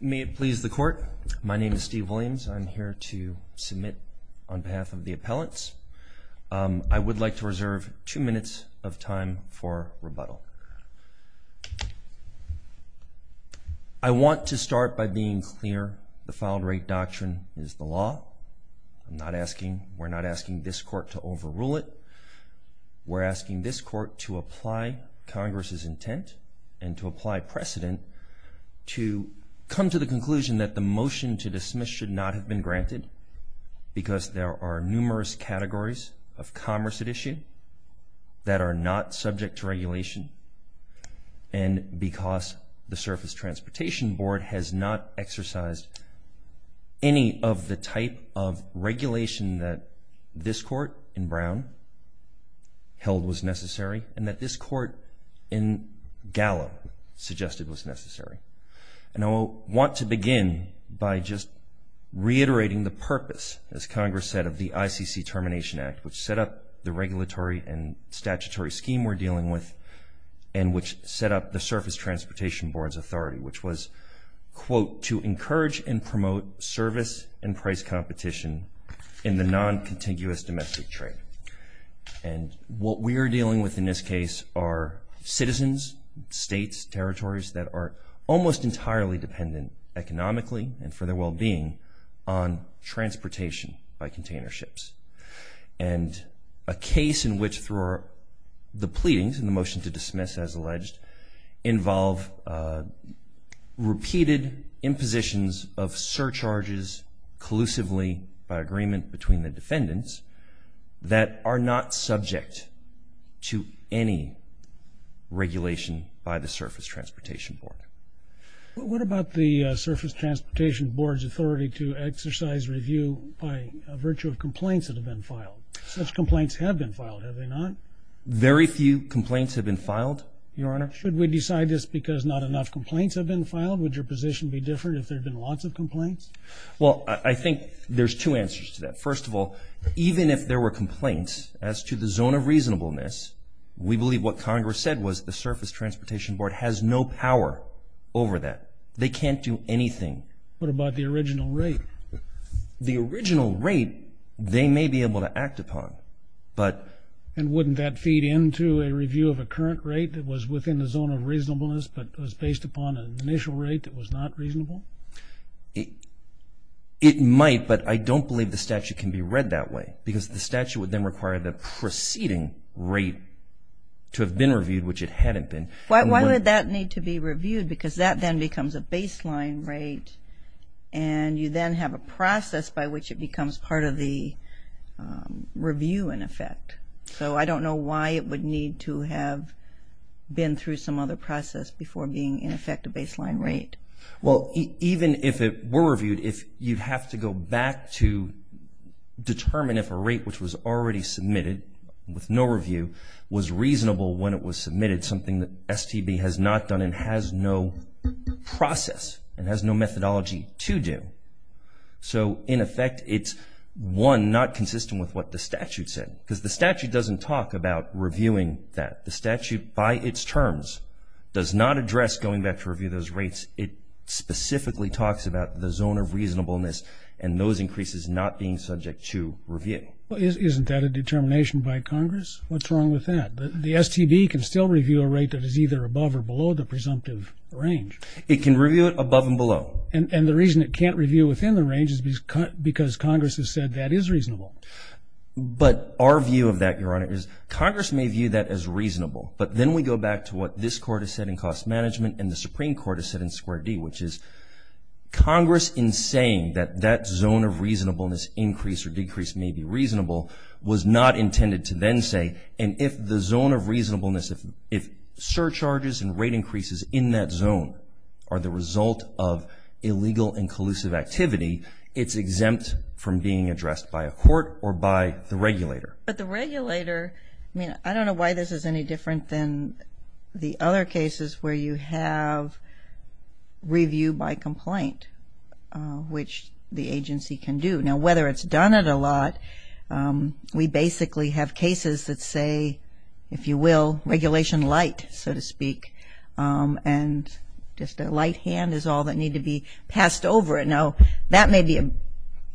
May it please the court. My name is Steve Williams. I'm here to submit on behalf of the appellants. I would like to reserve two minutes of time for rebuttal. I want to start by being clear. The Filed Rate Doctrine is the law. I'm not asking, we're not asking this court to overrule it. We're asking this court to apply Congress's intent and to apply precedent to come to the conclusion that the motion to dismiss should not have been granted because there are numerous categories of commerce at issue that are not subject to regulation. And because the Surface Transportation Board has not exercised any of the type of regulation that this court in Brown held was necessary and that this court in Gallup suggested was necessary. And I want to begin by just reiterating the purpose, as Congress said, of the ICC Termination Act, which set up the regulatory and statutory scheme we're dealing with and which set up the Surface Transportation Board's authority, which was, quote, to encourage and promote service and price competition in the non-contiguous domestic trade. And what we are dealing with in this case are citizens, states, territories that are almost entirely dependent economically and for their well-being on transportation by container ships. And a case in which the pleadings in the motion to dismiss, as alleged, involve repeated impositions of surcharges collusively by agreement between the defendants that are not subject to any regulation by the Surface Transportation Board. What about the Surface Transportation Board's authority to exercise review by virtue of complaints that have been filed? Such complaints have been filed, have they not? Very few complaints have been filed, Your Honor. Should we decide this because not enough complaints have been filed? Would your position be different if there had been lots of complaints? Well, I think there's two answers to that. First of all, even if there were complaints as to the zone of reasonableness, we believe what Congress said was the Surface Transportation Board has no power over that. They can't do anything. What about the original rate? The original rate, they may be able to act upon, but... And wouldn't that feed into a review of a current rate that was within the zone of reasonableness but was based upon an initial rate that was not reasonable? It might, but I don't believe the statute can be read that way, because the statute would then require the preceding rate to have been reviewed, which it hadn't been. Why would that need to be reviewed? Because that then becomes a baseline rate, and you then have a process by which it becomes part of the review, in effect. So I don't know why it would need to have been through some other process before being, in effect, a baseline rate. Well, even if it were reviewed, you'd have to go back to determine if a rate which was already submitted with no review was reasonable when it was submitted, something that STB has not done and has no process and has no methodology to do. So, in effect, it's, one, not consistent with what the statute said, because the statute doesn't talk about reviewing that. The statute, by its terms, does not address going back to review those rates. It specifically talks about the zone of reasonableness and those increases not being subject to review. Well, isn't that a determination by Congress? What's wrong with that? The STB can still review a rate that is either above or below the presumptive range. It can review it above and below. And the reason it can't review within the range is because Congress has said that is reasonable. But our view of that, Your Honor, is Congress may view that as reasonable, but then we go back to what this Court has said in cost management and the Supreme Court has said in square D, which is Congress, in saying that that zone of reasonableness increase or decrease may be reasonable, was not intended to then say, and if the zone of reasonableness, if surcharges and rate increases in that zone are the result of illegal and collusive activity, it's exempt from being addressed by a court or by the regulator. But the regulator, I mean, I don't know why this is any different than the other cases where you have review by complaint, which the agency can do. Now, whether it's done it a lot, we basically have cases that say, if you will, regulation light, so to speak, and just a light hand is all that need to be passed over. Now, that may be,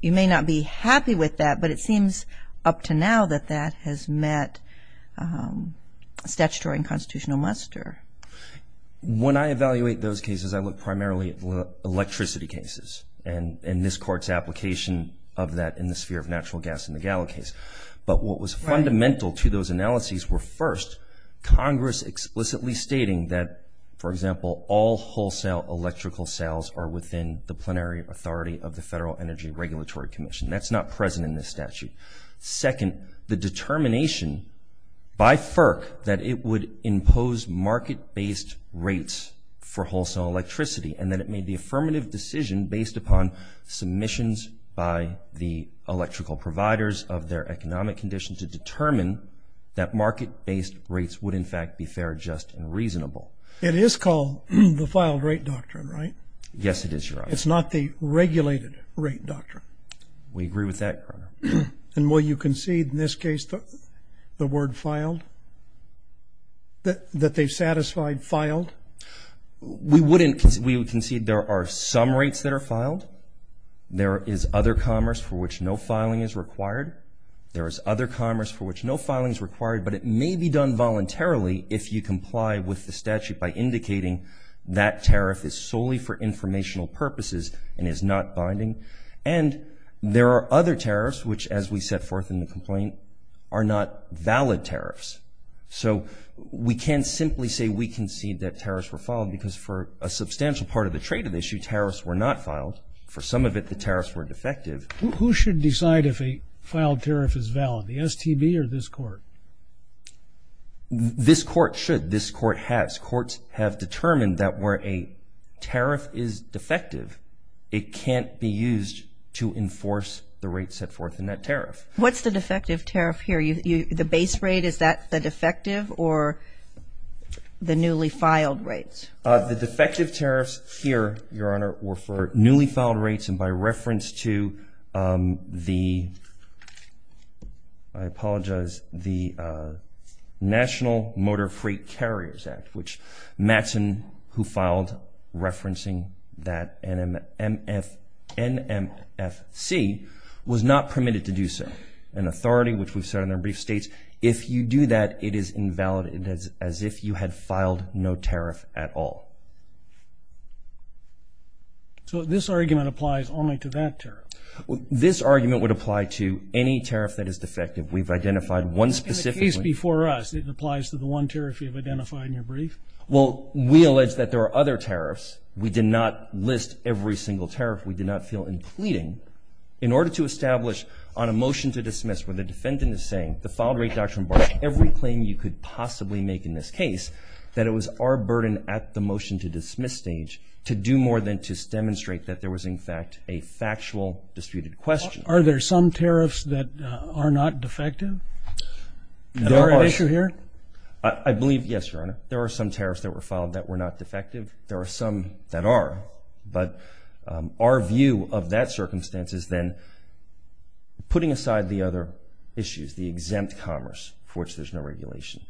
you may not be happy with that, but it seems up to now that that has met statutory and constitutional muster. When I evaluate those cases, I look primarily at electricity cases and this Court's application of that in the sphere of natural gas in the Gallo case. But what was fundamental to those analyses were, first, Congress explicitly stating that, for example, all wholesale electrical sales are within the plenary authority of the Federal Energy Regulatory Commission. That's not present in this statute. Second, the determination by FERC that it would impose market-based rates for wholesale electricity and that it made the affirmative decision based upon submissions by the electrical providers of their economic condition to determine that market-based rates would, in fact, be fair, just, and reasonable. It is called the filed rate doctrine, right? Yes, it is, Your Honor. It's not the regulated rate doctrine. We agree with that, Your Honor. And will you concede in this case the word filed, that they've satisfied filed? We wouldn't. We would concede there are some rates that are filed. There is other commerce for which no filing is required. There is other commerce for which no filing is required, but it may be done voluntarily if you comply with the statute by indicating that tariff is solely for informational purposes and is not binding. And there are other tariffs which, as we set forth in the complaint, are not valid tariffs. So we can't simply say we concede that tariffs were filed because for a substantial part of the trade of the issue, tariffs were not filed. For some of it, the tariffs were defective. Who should decide if a filed tariff is valid, the STB or this Court? This Court should. This Court has. This Court has determined that where a tariff is defective, it can't be used to enforce the rates set forth in that tariff. What's the defective tariff here? The base rate, is that the defective or the newly filed rates? The defective tariffs here, Your Honor, were for newly filed rates, and by reference to the, I apologize, the National Motor Freight Carriers Act, which Mattson, who filed referencing that NMFC, was not permitted to do so. An authority, which we've said in our brief, states if you do that, it is invalid, as if you had filed no tariff at all. So this argument applies only to that tariff? This argument would apply to any tariff that is defective. We've identified one specifically. In the case before us, it applies to the one tariff you've identified in your brief? Well, we allege that there are other tariffs. We did not list every single tariff. We did not feel in pleading. In order to establish on a motion to dismiss where the defendant is saying, the filed rate doctrine barred every claim you could possibly make in this case, that it was our burden at the motion to dismiss stage to do more than just demonstrate that there was, in fact, a factual disputed question. Are there some tariffs that are not defective? Is there an issue here? I believe, yes, Your Honor, there are some tariffs that were filed that were not defective. There are some that are. But our view of that circumstance is then putting aside the other issues, the exempt commerce, for which there's no regulation,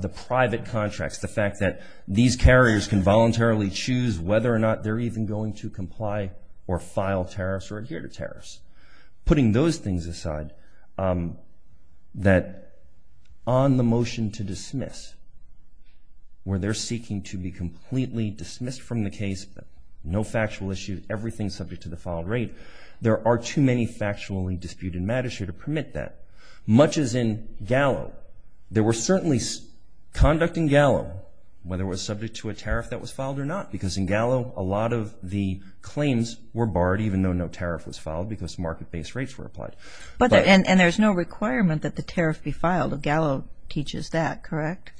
the private contracts, the fact that these carriers can voluntarily choose whether or not they're even going to comply or file tariffs or adhere to tariffs. Putting those things aside, that on the motion to dismiss, where they're seeking to be completely dismissed from the case, no factual issue, everything subject to the filed rate, there are too many factually disputed matters here to permit that. Much as in Gallo, there were certainly conduct in Gallo, whether it was subject to a tariff that was filed or not. Because in Gallo, a lot of the claims were barred, even though no tariff was filed, because market-based rates were applied. And there's no requirement that the tariff be filed. Gallo teaches that, correct?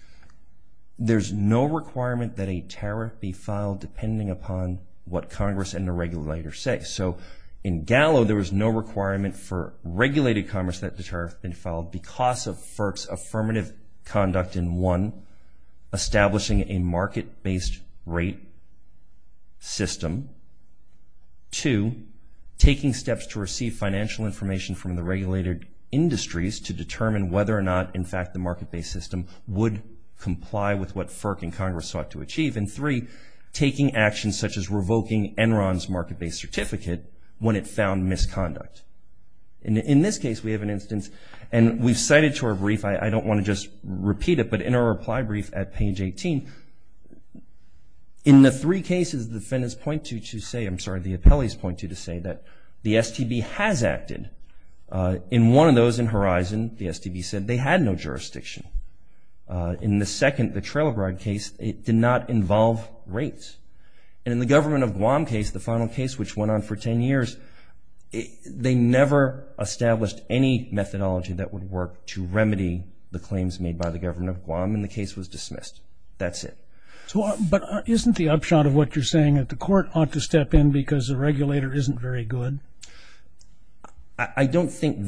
There's no requirement that a tariff be filed, depending upon what Congress and the regulators say. So in Gallo, there was no requirement for regulated commerce that the tariff be filed because of FERC's affirmative conduct in, one, establishing a market-based rate system, two, taking steps to receive financial information from the regulated industries to determine whether or not, in fact, the market-based system would comply and three, taking actions such as revoking Enron's market-based certificate when it found misconduct. In this case, we have an instance, and we've cited to our brief. I don't want to just repeat it, but in our reply brief at page 18, in the three cases the defendants point to to say, I'm sorry, the appellees point to to say that the STB has acted. In one of those, in Horizon, the STB said they had no jurisdiction. In the second, the Trailbroad case, it did not involve rates. And in the government of Guam case, the final case, which went on for 10 years, they never established any methodology that would work to remedy the claims made by the government of Guam, and the case was dismissed. That's it. But isn't the upshot of what you're saying that the court ought to step in because the regulator isn't very good? I think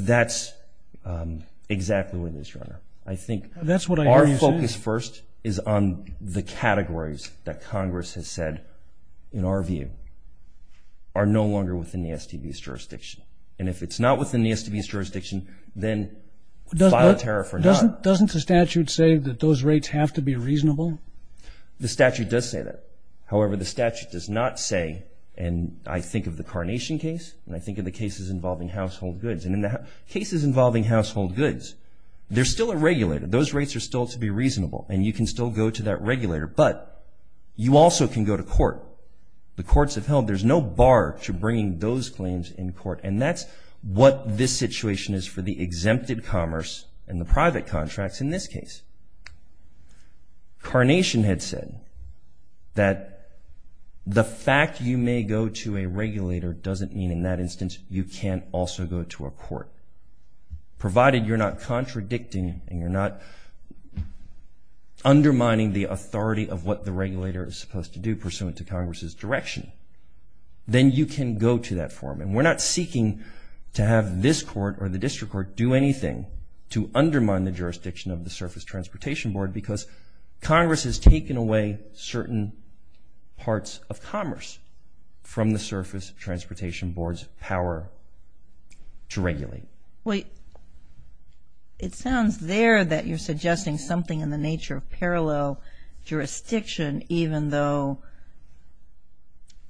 our focus first is on the categories that Congress has said, in our view, are no longer within the STB's jurisdiction. And if it's not within the STB's jurisdiction, then file a tariff or not. Doesn't the statute say that those rates have to be reasonable? The statute does say that. However, the statute does not say, and I think of the Carnation case, and I think of the cases involving household goods. And in the cases involving household goods, there's still a regulator. Those rates are still to be reasonable, and you can still go to that regulator. But you also can go to court. The courts have held there's no bar to bringing those claims in court, and that's what this situation is for the exempted commerce and the private contracts in this case. Carnation had said that the fact you may go to a regulator doesn't mean, in that instance, you can't also go to a court. Provided you're not contradicting and you're not undermining the authority of what the regulator is supposed to do, pursuant to Congress's direction, then you can go to that forum. And we're not seeking to have this court or the district court do anything to undermine the jurisdiction of the Surface Transportation Board because Congress has taken away certain parts of commerce from the Surface Transportation Board's power to regulate. Wait. It sounds there that you're suggesting something in the nature of parallel jurisdiction, even though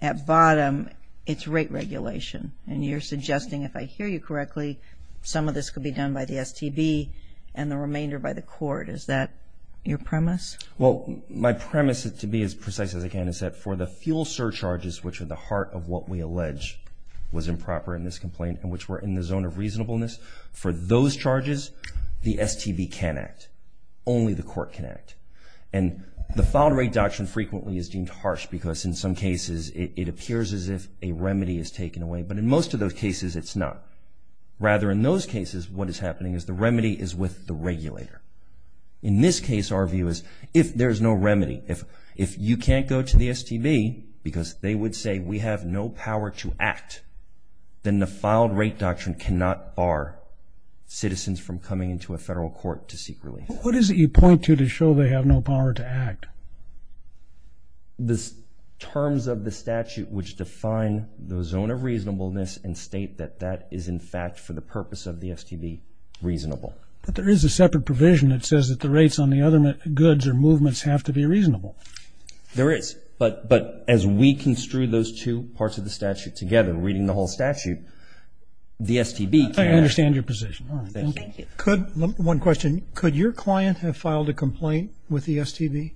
at bottom it's rate regulation, and you're suggesting, if I hear you correctly, some of this could be done by the STB and the remainder by the court. Is that your premise? Well, my premise, to be as precise as I can, is that for the fuel surcharges, which are the heart of what we allege was improper in this complaint and which were in the zone of reasonableness, for those charges the STB can act. Only the court can act. And the foul rate doctrine frequently is deemed harsh because, in some cases, it appears as if a remedy is taken away, but in most of those cases it's not. Rather, in those cases, what is happening is the remedy is with the regulator. In this case, our view is if there's no remedy, if you can't go to the STB because they would say we have no power to act, then the foul rate doctrine cannot bar citizens from coming into a federal court to seek relief. What is it you point to to show they have no power to act? The terms of the statute which define the zone of reasonableness and state that that is, in fact, for the purpose of the STB, reasonable. But there is a separate provision that says that the rates on the other goods or movements have to be reasonable. There is. But as we construe those two parts of the statute together, reading the whole statute, the STB can't act. I understand your position. Thank you. One question. Could your client have filed a complaint with the STB?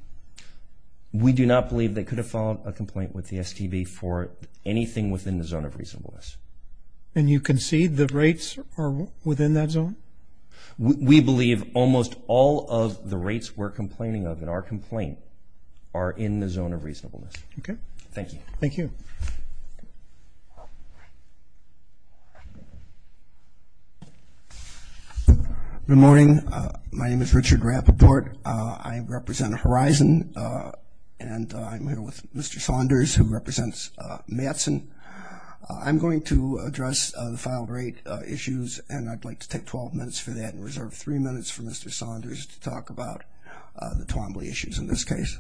We do not believe they could have filed a complaint with the STB for anything within the zone of reasonableness. And you concede the rates are within that zone? We believe almost all of the rates we're complaining of in our complaint are in the zone of reasonableness. Okay. Thank you. Thank you. Good morning. My name is Richard Rapoport. I represent Horizon, and I'm here with Mr. Saunders, who represents Mattson. I'm going to address the filed rate issues, and I'd like to take 12 minutes for that and reserve three minutes for Mr. Saunders to talk about the Twombly issues in this case.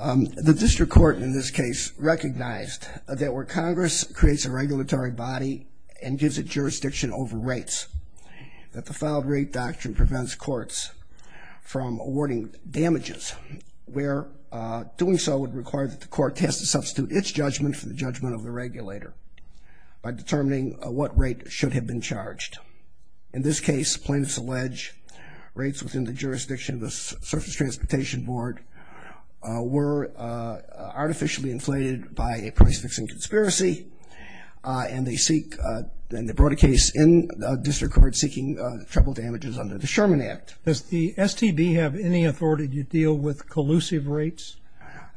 The district court in this case recognized that where Congress creates a regulatory body and gives it jurisdiction over rates, that the filed rate doctrine prevents courts from awarding damages, where doing so would require that the court test to substitute its judgment for the judgment of the regulator by determining what rate should have been charged. In this case, plaintiffs allege rates within the jurisdiction of the Surface Transportation Board were artificially inflated by a price-fixing conspiracy, and they brought a case in the district court seeking treble damages under the Sherman Act. Does the STB have any authority to deal with collusive rates?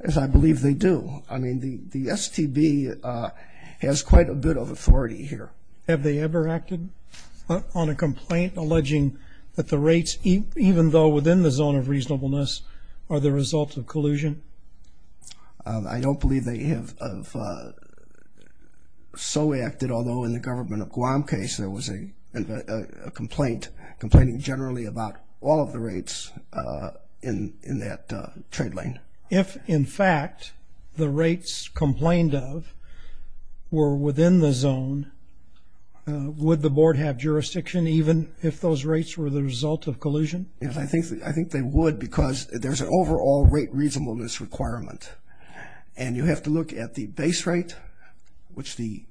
Yes, I believe they do. I mean, the STB has quite a bit of authority here. Have they ever acted on a complaint alleging that the rates, even though within the zone of reasonableness, are the result of collusion? I don't believe they have so acted, although in the government of Guam case there was a complaint complaining generally about all of the rates in that trade lane. If, in fact, the rates complained of were within the zone, would the board have jurisdiction even if those rates were the result of collusion? Yes, I think they would because there's an overall rate reasonableness requirement, and you have to look at the base rate, which the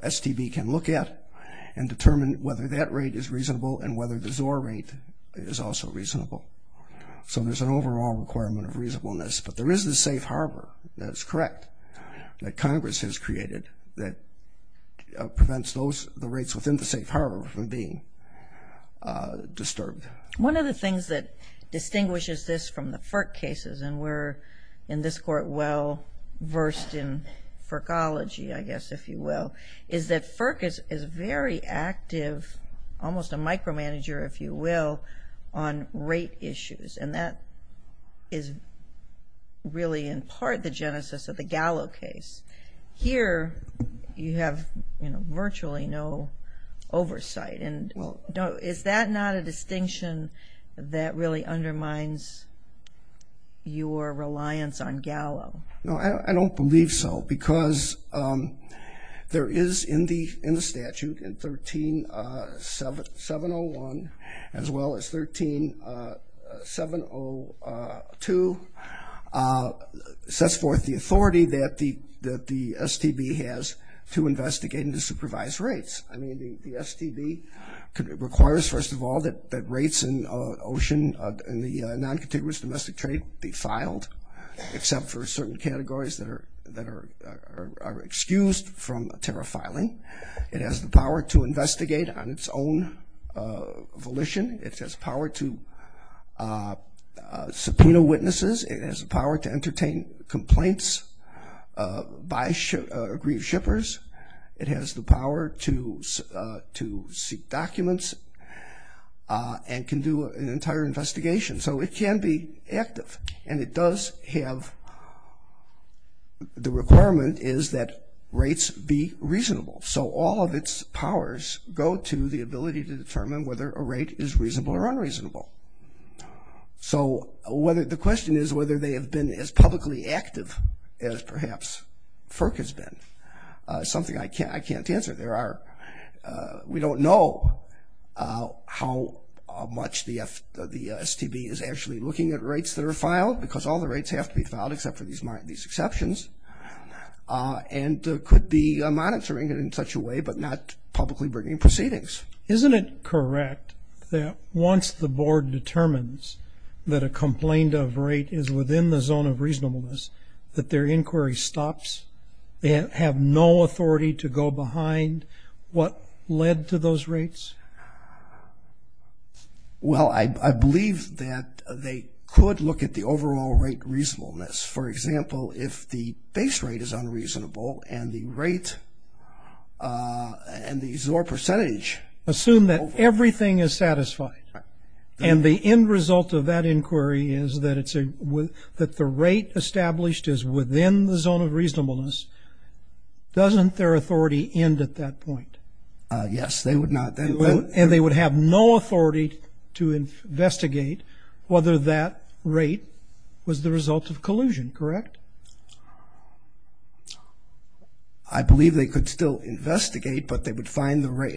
STB can look at, and determine whether that rate is reasonable and whether the XOR rate is also reasonable. So there's an overall requirement of reasonableness, but there is the safe harbor that's correct that Congress has created that prevents the rates within the safe harbor from being disturbed. One of the things that distinguishes this from the FERC cases, and we're in this court well versed in FERCology, I guess, if you will, is that FERC is very active, almost a micromanager, if you will, on rate issues, and that is really in part the genesis of the Gallo case. Here you have virtually no oversight, and is that not a distinction that really undermines your reliance on Gallo? No, I don't believe so because there is in the statute in 13701 as well as 13702, sets forth the authority that the STB has to investigate and to supervise rates. I mean, the STB requires, first of all, that rates in OCEAN, in the non-contiguous domestic trade, be filed, except for certain categories that are excused from a tariff filing. It has the power to investigate on its own volition. It has power to subpoena witnesses. It has the power to entertain complaints by aggrieved shippers. It has the power to seek documents and can do an entire investigation. So it can be active, and it does have the requirement is that rates be reasonable. So all of its powers go to the ability to determine whether a rate is reasonable or unreasonable. So the question is whether they have been as publicly active as perhaps FERC has been, something I can't answer. We don't know how much the STB is actually looking at rates that are filed because all the rates have to be filed except for these exceptions, and could be monitoring it in such a way but not publicly bringing proceedings. Isn't it correct that once the board determines that a complained-of rate is within the zone of reasonableness, that their inquiry stops? They have no authority to go behind what led to those rates? Well, I believe that they could look at the overall rate reasonableness. For example, if the base rate is unreasonable and the rate and the XOR percentage. Assume that everything is satisfied, and the end result of that inquiry is that the rate established is within the zone of reasonableness. Doesn't their authority end at that point? Yes, they would not. And they would have no authority to investigate whether that rate was the result of collusion, correct? I believe they could still investigate, but if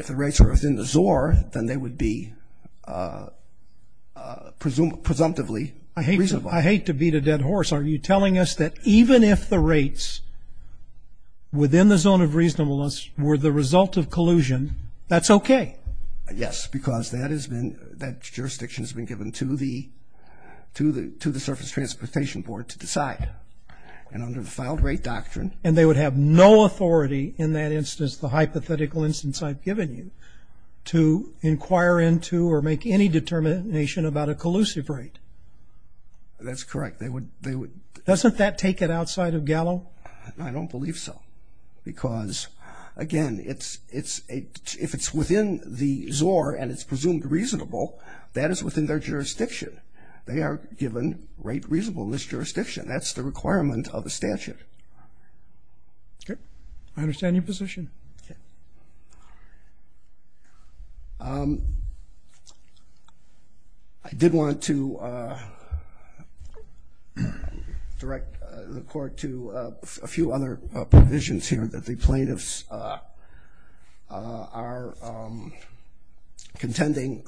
the rates are within the XOR, then they would be presumptively reasonable. I hate to beat a dead horse. Are you telling us that even if the rates within the zone of reasonableness were the result of collusion, that's okay? Yes, because that jurisdiction has been given to the Surface Transportation Board to decide. And under the filed rate doctrine. And they would have no authority in that instance, the hypothetical instance I've given you, to inquire into or make any determination about a collusive rate? That's correct. Doesn't that take it outside of Gallo? No, I don't believe so. Because, again, if it's within the XOR and it's presumed reasonable, that is within their jurisdiction. They are given rate reasonable in this jurisdiction. That's the requirement of the statute. Okay. I understand your position. Okay. I did want to direct the court to a few other provisions here that the plaintiffs are contending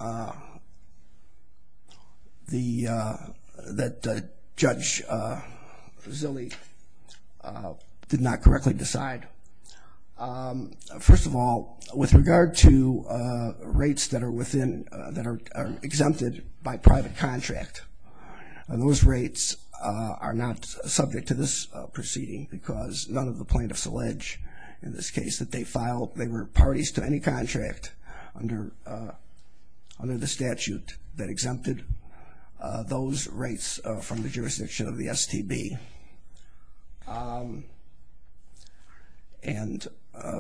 that Judge Zilli did not correctly decide. First of all, with regard to rates that are within, that are exempted by private contract, those rates are not subject to this proceeding because none of the plaintiffs allege in this case that they filed, they were parties to any contract under the statute that exempted those rates from the jurisdiction of the STB. And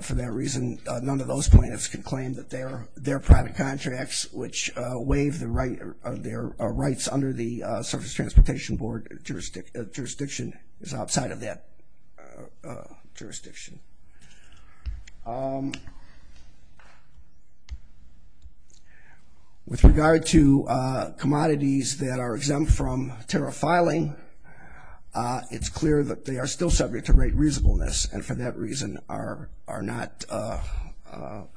for that reason, none of those plaintiffs can claim that their private contracts, which waive their rights under the Surface Transportation Board jurisdiction, is outside of that jurisdiction. With regard to commodities that are exempt from tariff filing, it's clear that they are still subject to rate reasonableness and for that reason are not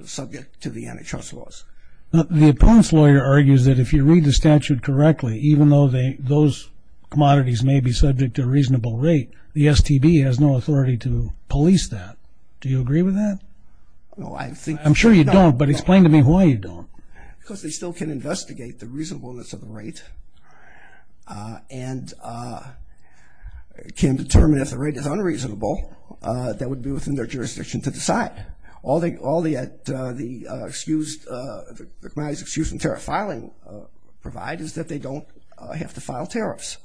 subject to the antitrust laws. The opponent's lawyer argues that if you read the statute correctly, even though those commodities may be subject to a reasonable rate, the STB has no authority to police that. Do you agree with that? I'm sure you don't, but explain to me why you don't. Because they still can investigate the reasonableness of the rate and can determine if the rate is unreasonable that would be within their jurisdiction to decide. All the commodities excused from tariff filing provide is that they don't have to file tariffs.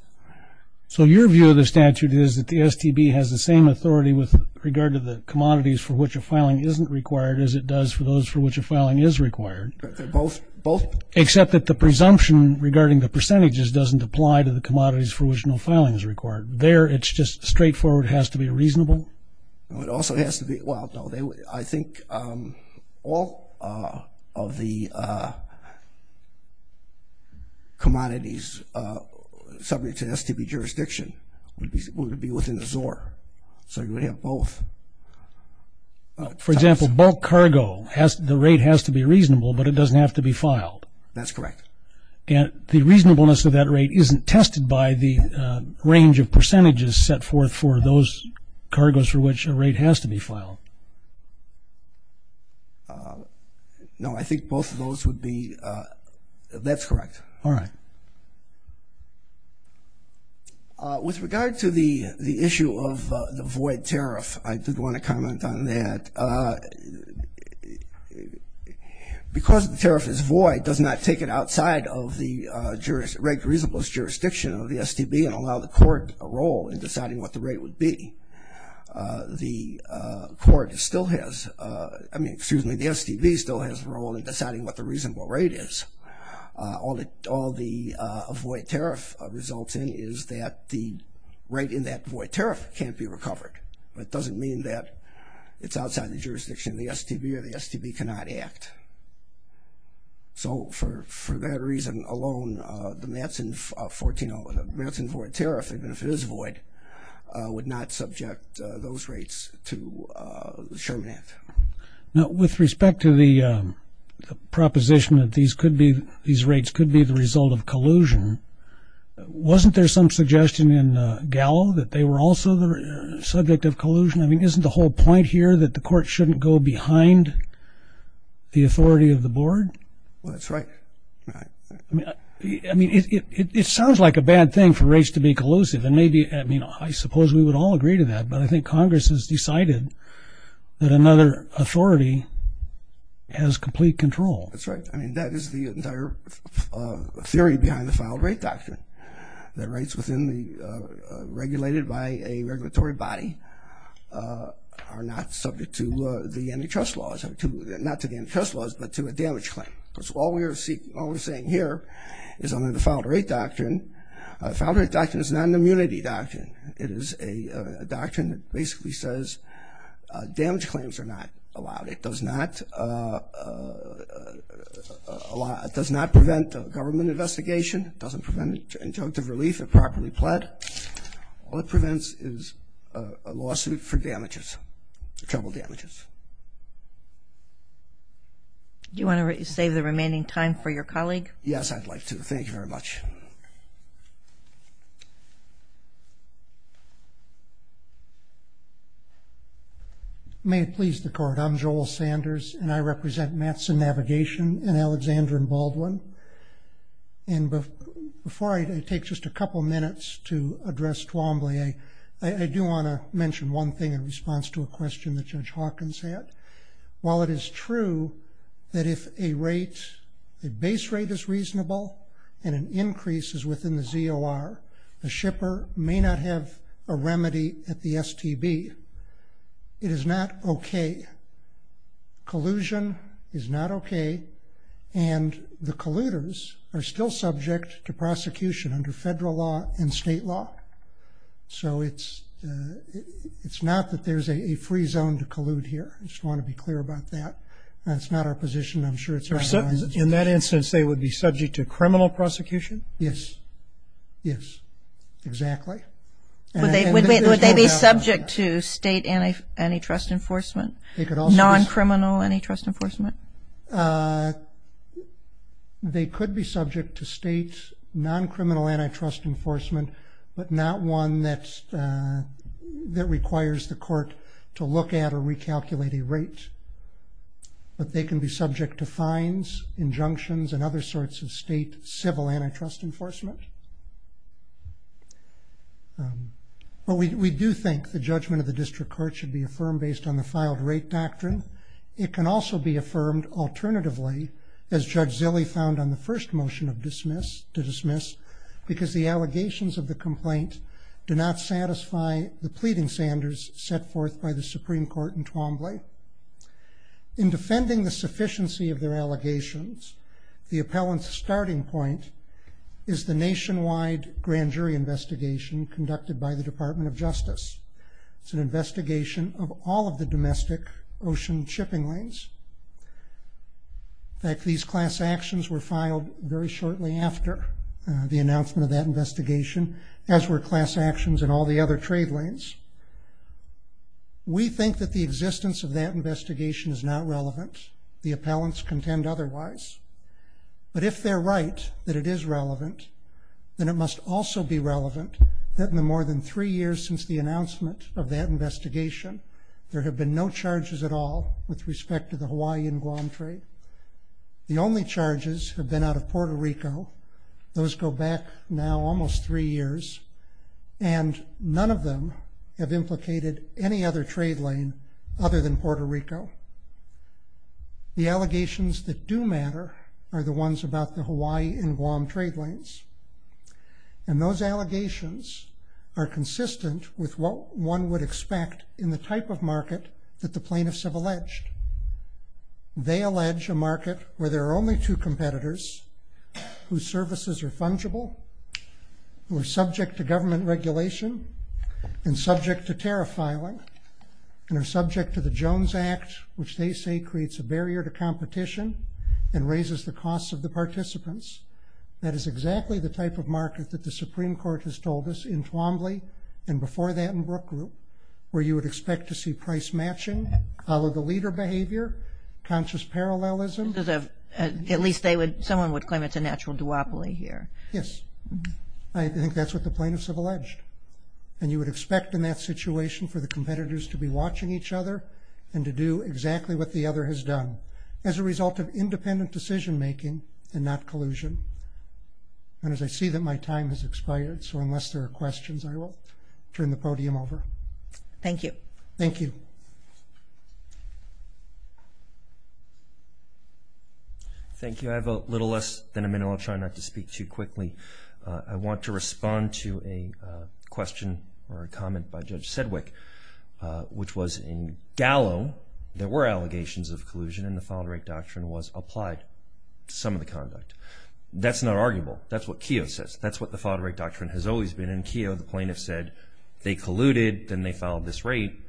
So your view of the statute is that the STB has the same authority with regard to the commodities for which a filing isn't required as it does for those for which a filing is required? Both. Except that the presumption regarding the percentages doesn't apply to the commodities for which no filing is required. There it's just straightforward, it has to be reasonable? It also has to be, well, I think all of the commodities subject to STB jurisdiction would be within the ZOR. So you would have both. For example, bulk cargo, the rate has to be reasonable, but it doesn't have to be filed. That's correct. And the reasonableness of that rate isn't tested by the range of percentages set forth for those cargos for which a rate has to be filed? No, I think both of those would be, that's correct. All right. With regard to the issue of the void tariff, I did want to comment on that. Because the tariff is void, it does not take it outside of the reasonable jurisdiction of the STB and allow the court a role in deciding what the rate would be. The court still has, I mean, excuse me, the STB still has a role in deciding what the reasonable rate is. All the void tariff results in is that the rate in that void tariff can't be recovered. But it doesn't mean that it's outside the jurisdiction of the STB or the STB cannot act. So for that reason alone, the Matson void tariff, even if it is void, would not subject those rates to the Sherman Act. Now, with respect to the proposition that these rates could be the result of collusion, wasn't there some suggestion in Gallo that they were also the subject of collusion? I mean, isn't the whole point here that the court shouldn't go behind the authority of the board? Well, that's right. I mean, it sounds like a bad thing for rates to be collusive. And maybe, I mean, I suppose we would all agree to that. But I think Congress has decided that another authority has complete control. That's right. I mean, that is the entire theory behind the Filed Rate Doctrine, that rates within the regulated by a regulatory body are not subject to the antitrust laws, not to the antitrust laws, but to a damage claim. So all we're saying here is under the Filed Rate Doctrine, the Filed Rate Doctrine is not an immunity doctrine. It is a doctrine that basically says damage claims are not allowed. It does not prevent government investigation. It doesn't prevent injunctive relief if properly pled. All it prevents is a lawsuit for damages, trouble damages. Do you want to save the remaining time for your colleague? Yes, I'd like to. Thank you very much. Thank you. May it please the Court, I'm Joel Sanders, and I represent Matson Navigation in Alexander and Baldwin. And before I take just a couple minutes to address Twombly, I do want to mention one thing in response to a question that Judge Hawkins had. While it is true that if a rate, a base rate is reasonable and an increase is within the ZOR, the shipper may not have a remedy at the STB. It is not okay. Collusion is not okay. And the colluders are still subject to prosecution under federal law and state law. So it's not that there's a free zone to collude here. I just want to be clear about that. That's not our position. I'm sure it's everyone's. In that instance, they would be subject to criminal prosecution? Yes. Yes, exactly. Would they be subject to state antitrust enforcement, non-criminal antitrust enforcement? They could be subject to state non-criminal antitrust enforcement, but not one that requires the court to look at or recalculate a rate. But they can be subject to fines, injunctions, and other sorts of state civil antitrust enforcement. But we do think the judgment of the district court should be affirmed based on the filed rate doctrine. It can also be affirmed alternatively, as Judge Zilley found on the first motion to dismiss, because the allegations of the complaint do not satisfy the pleading standards set forth by the Supreme Court in Twombly. In defending the sufficiency of their allegations, the appellant's starting point is the nationwide grand jury investigation conducted by the Department of Justice. It's an investigation of all of the domestic ocean shipping lanes. In fact, these class actions were filed very shortly after the announcement of that investigation, as were class actions in all the other trade lanes. We think that the existence of that investigation is not relevant. The appellants contend otherwise. But if they're right that it is relevant, then it must also be relevant that in the more than three years since the announcement of that investigation, there have been no charges at all with respect to the Hawaii and Guam trade. The only charges have been out of Puerto Rico. Those go back now almost three years, and none of them have implicated any other trade lane other than Puerto Rico. The allegations that do matter are the ones about the Hawaii and Guam trade lanes. And those allegations are consistent with what one would expect in the type of market that the plaintiffs have alleged. They allege a market where there are only two competitors whose services are fungible, who are subject to government regulation and subject to tariff filing, and are subject to the Jones Act, which they say creates a barrier to competition and raises the costs of the participants. That is exactly the type of market that the Supreme Court has told us in Twombly and before that in Brook Group, where you would expect to see price matching, follow the leader behavior, conscious parallelism. At least someone would claim it's a natural duopoly here. Yes. I think that's what the plaintiffs have alleged. And you would expect in that situation for the competitors to be watching each other and to do exactly what the other has done. As a result of independent decision-making and not collusion. And as I see that my time has expired, so unless there are questions, I will turn the podium over. Thank you. Thank you. Thank you. I have a little less than a minute. I'll try not to speak too quickly. I want to respond to a question or a comment by Judge Sedgwick, which was in Gallo, there were allegations of collusion and the file-to-rate doctrine was applied to some of the conduct. That's not arguable. That's what Keogh says. That's what the file-to-rate doctrine has always been. And Keogh, the plaintiff, said they colluded, then they filed this rate,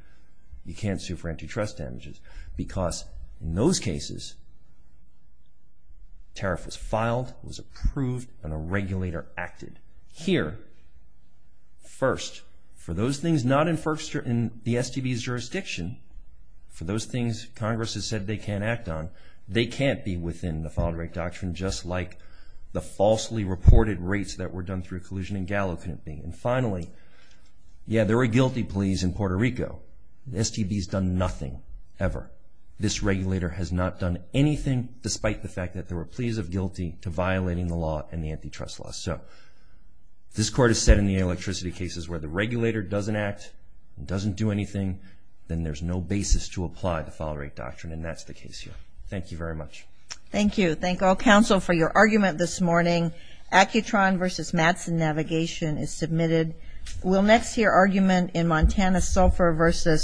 you can't sue for antitrust damages. Because in those cases, tariff was filed, was approved, and a regulator acted. Here, first, for those things not in the STB's jurisdiction, for those things Congress has said they can't act on, they can't be within the file-to-rate doctrine just like the falsely reported rates that were done through collusion in Gallo couldn't be. And finally, yeah, there were guilty pleas in Puerto Rico. The STB's done nothing ever. This regulator has not done anything despite the fact that there were pleas of guilty to violating the law and the antitrust law. So this Court has said in the electricity cases where the regulator doesn't act, doesn't do anything, then there's no basis to apply the file-to-rate doctrine, and that's the case here. Thank you very much. Thank you. Thank all counsel for your argument this morning. Accutron v. Mattson Navigation is submitted. We'll next hear argument in Montana Sulphur v.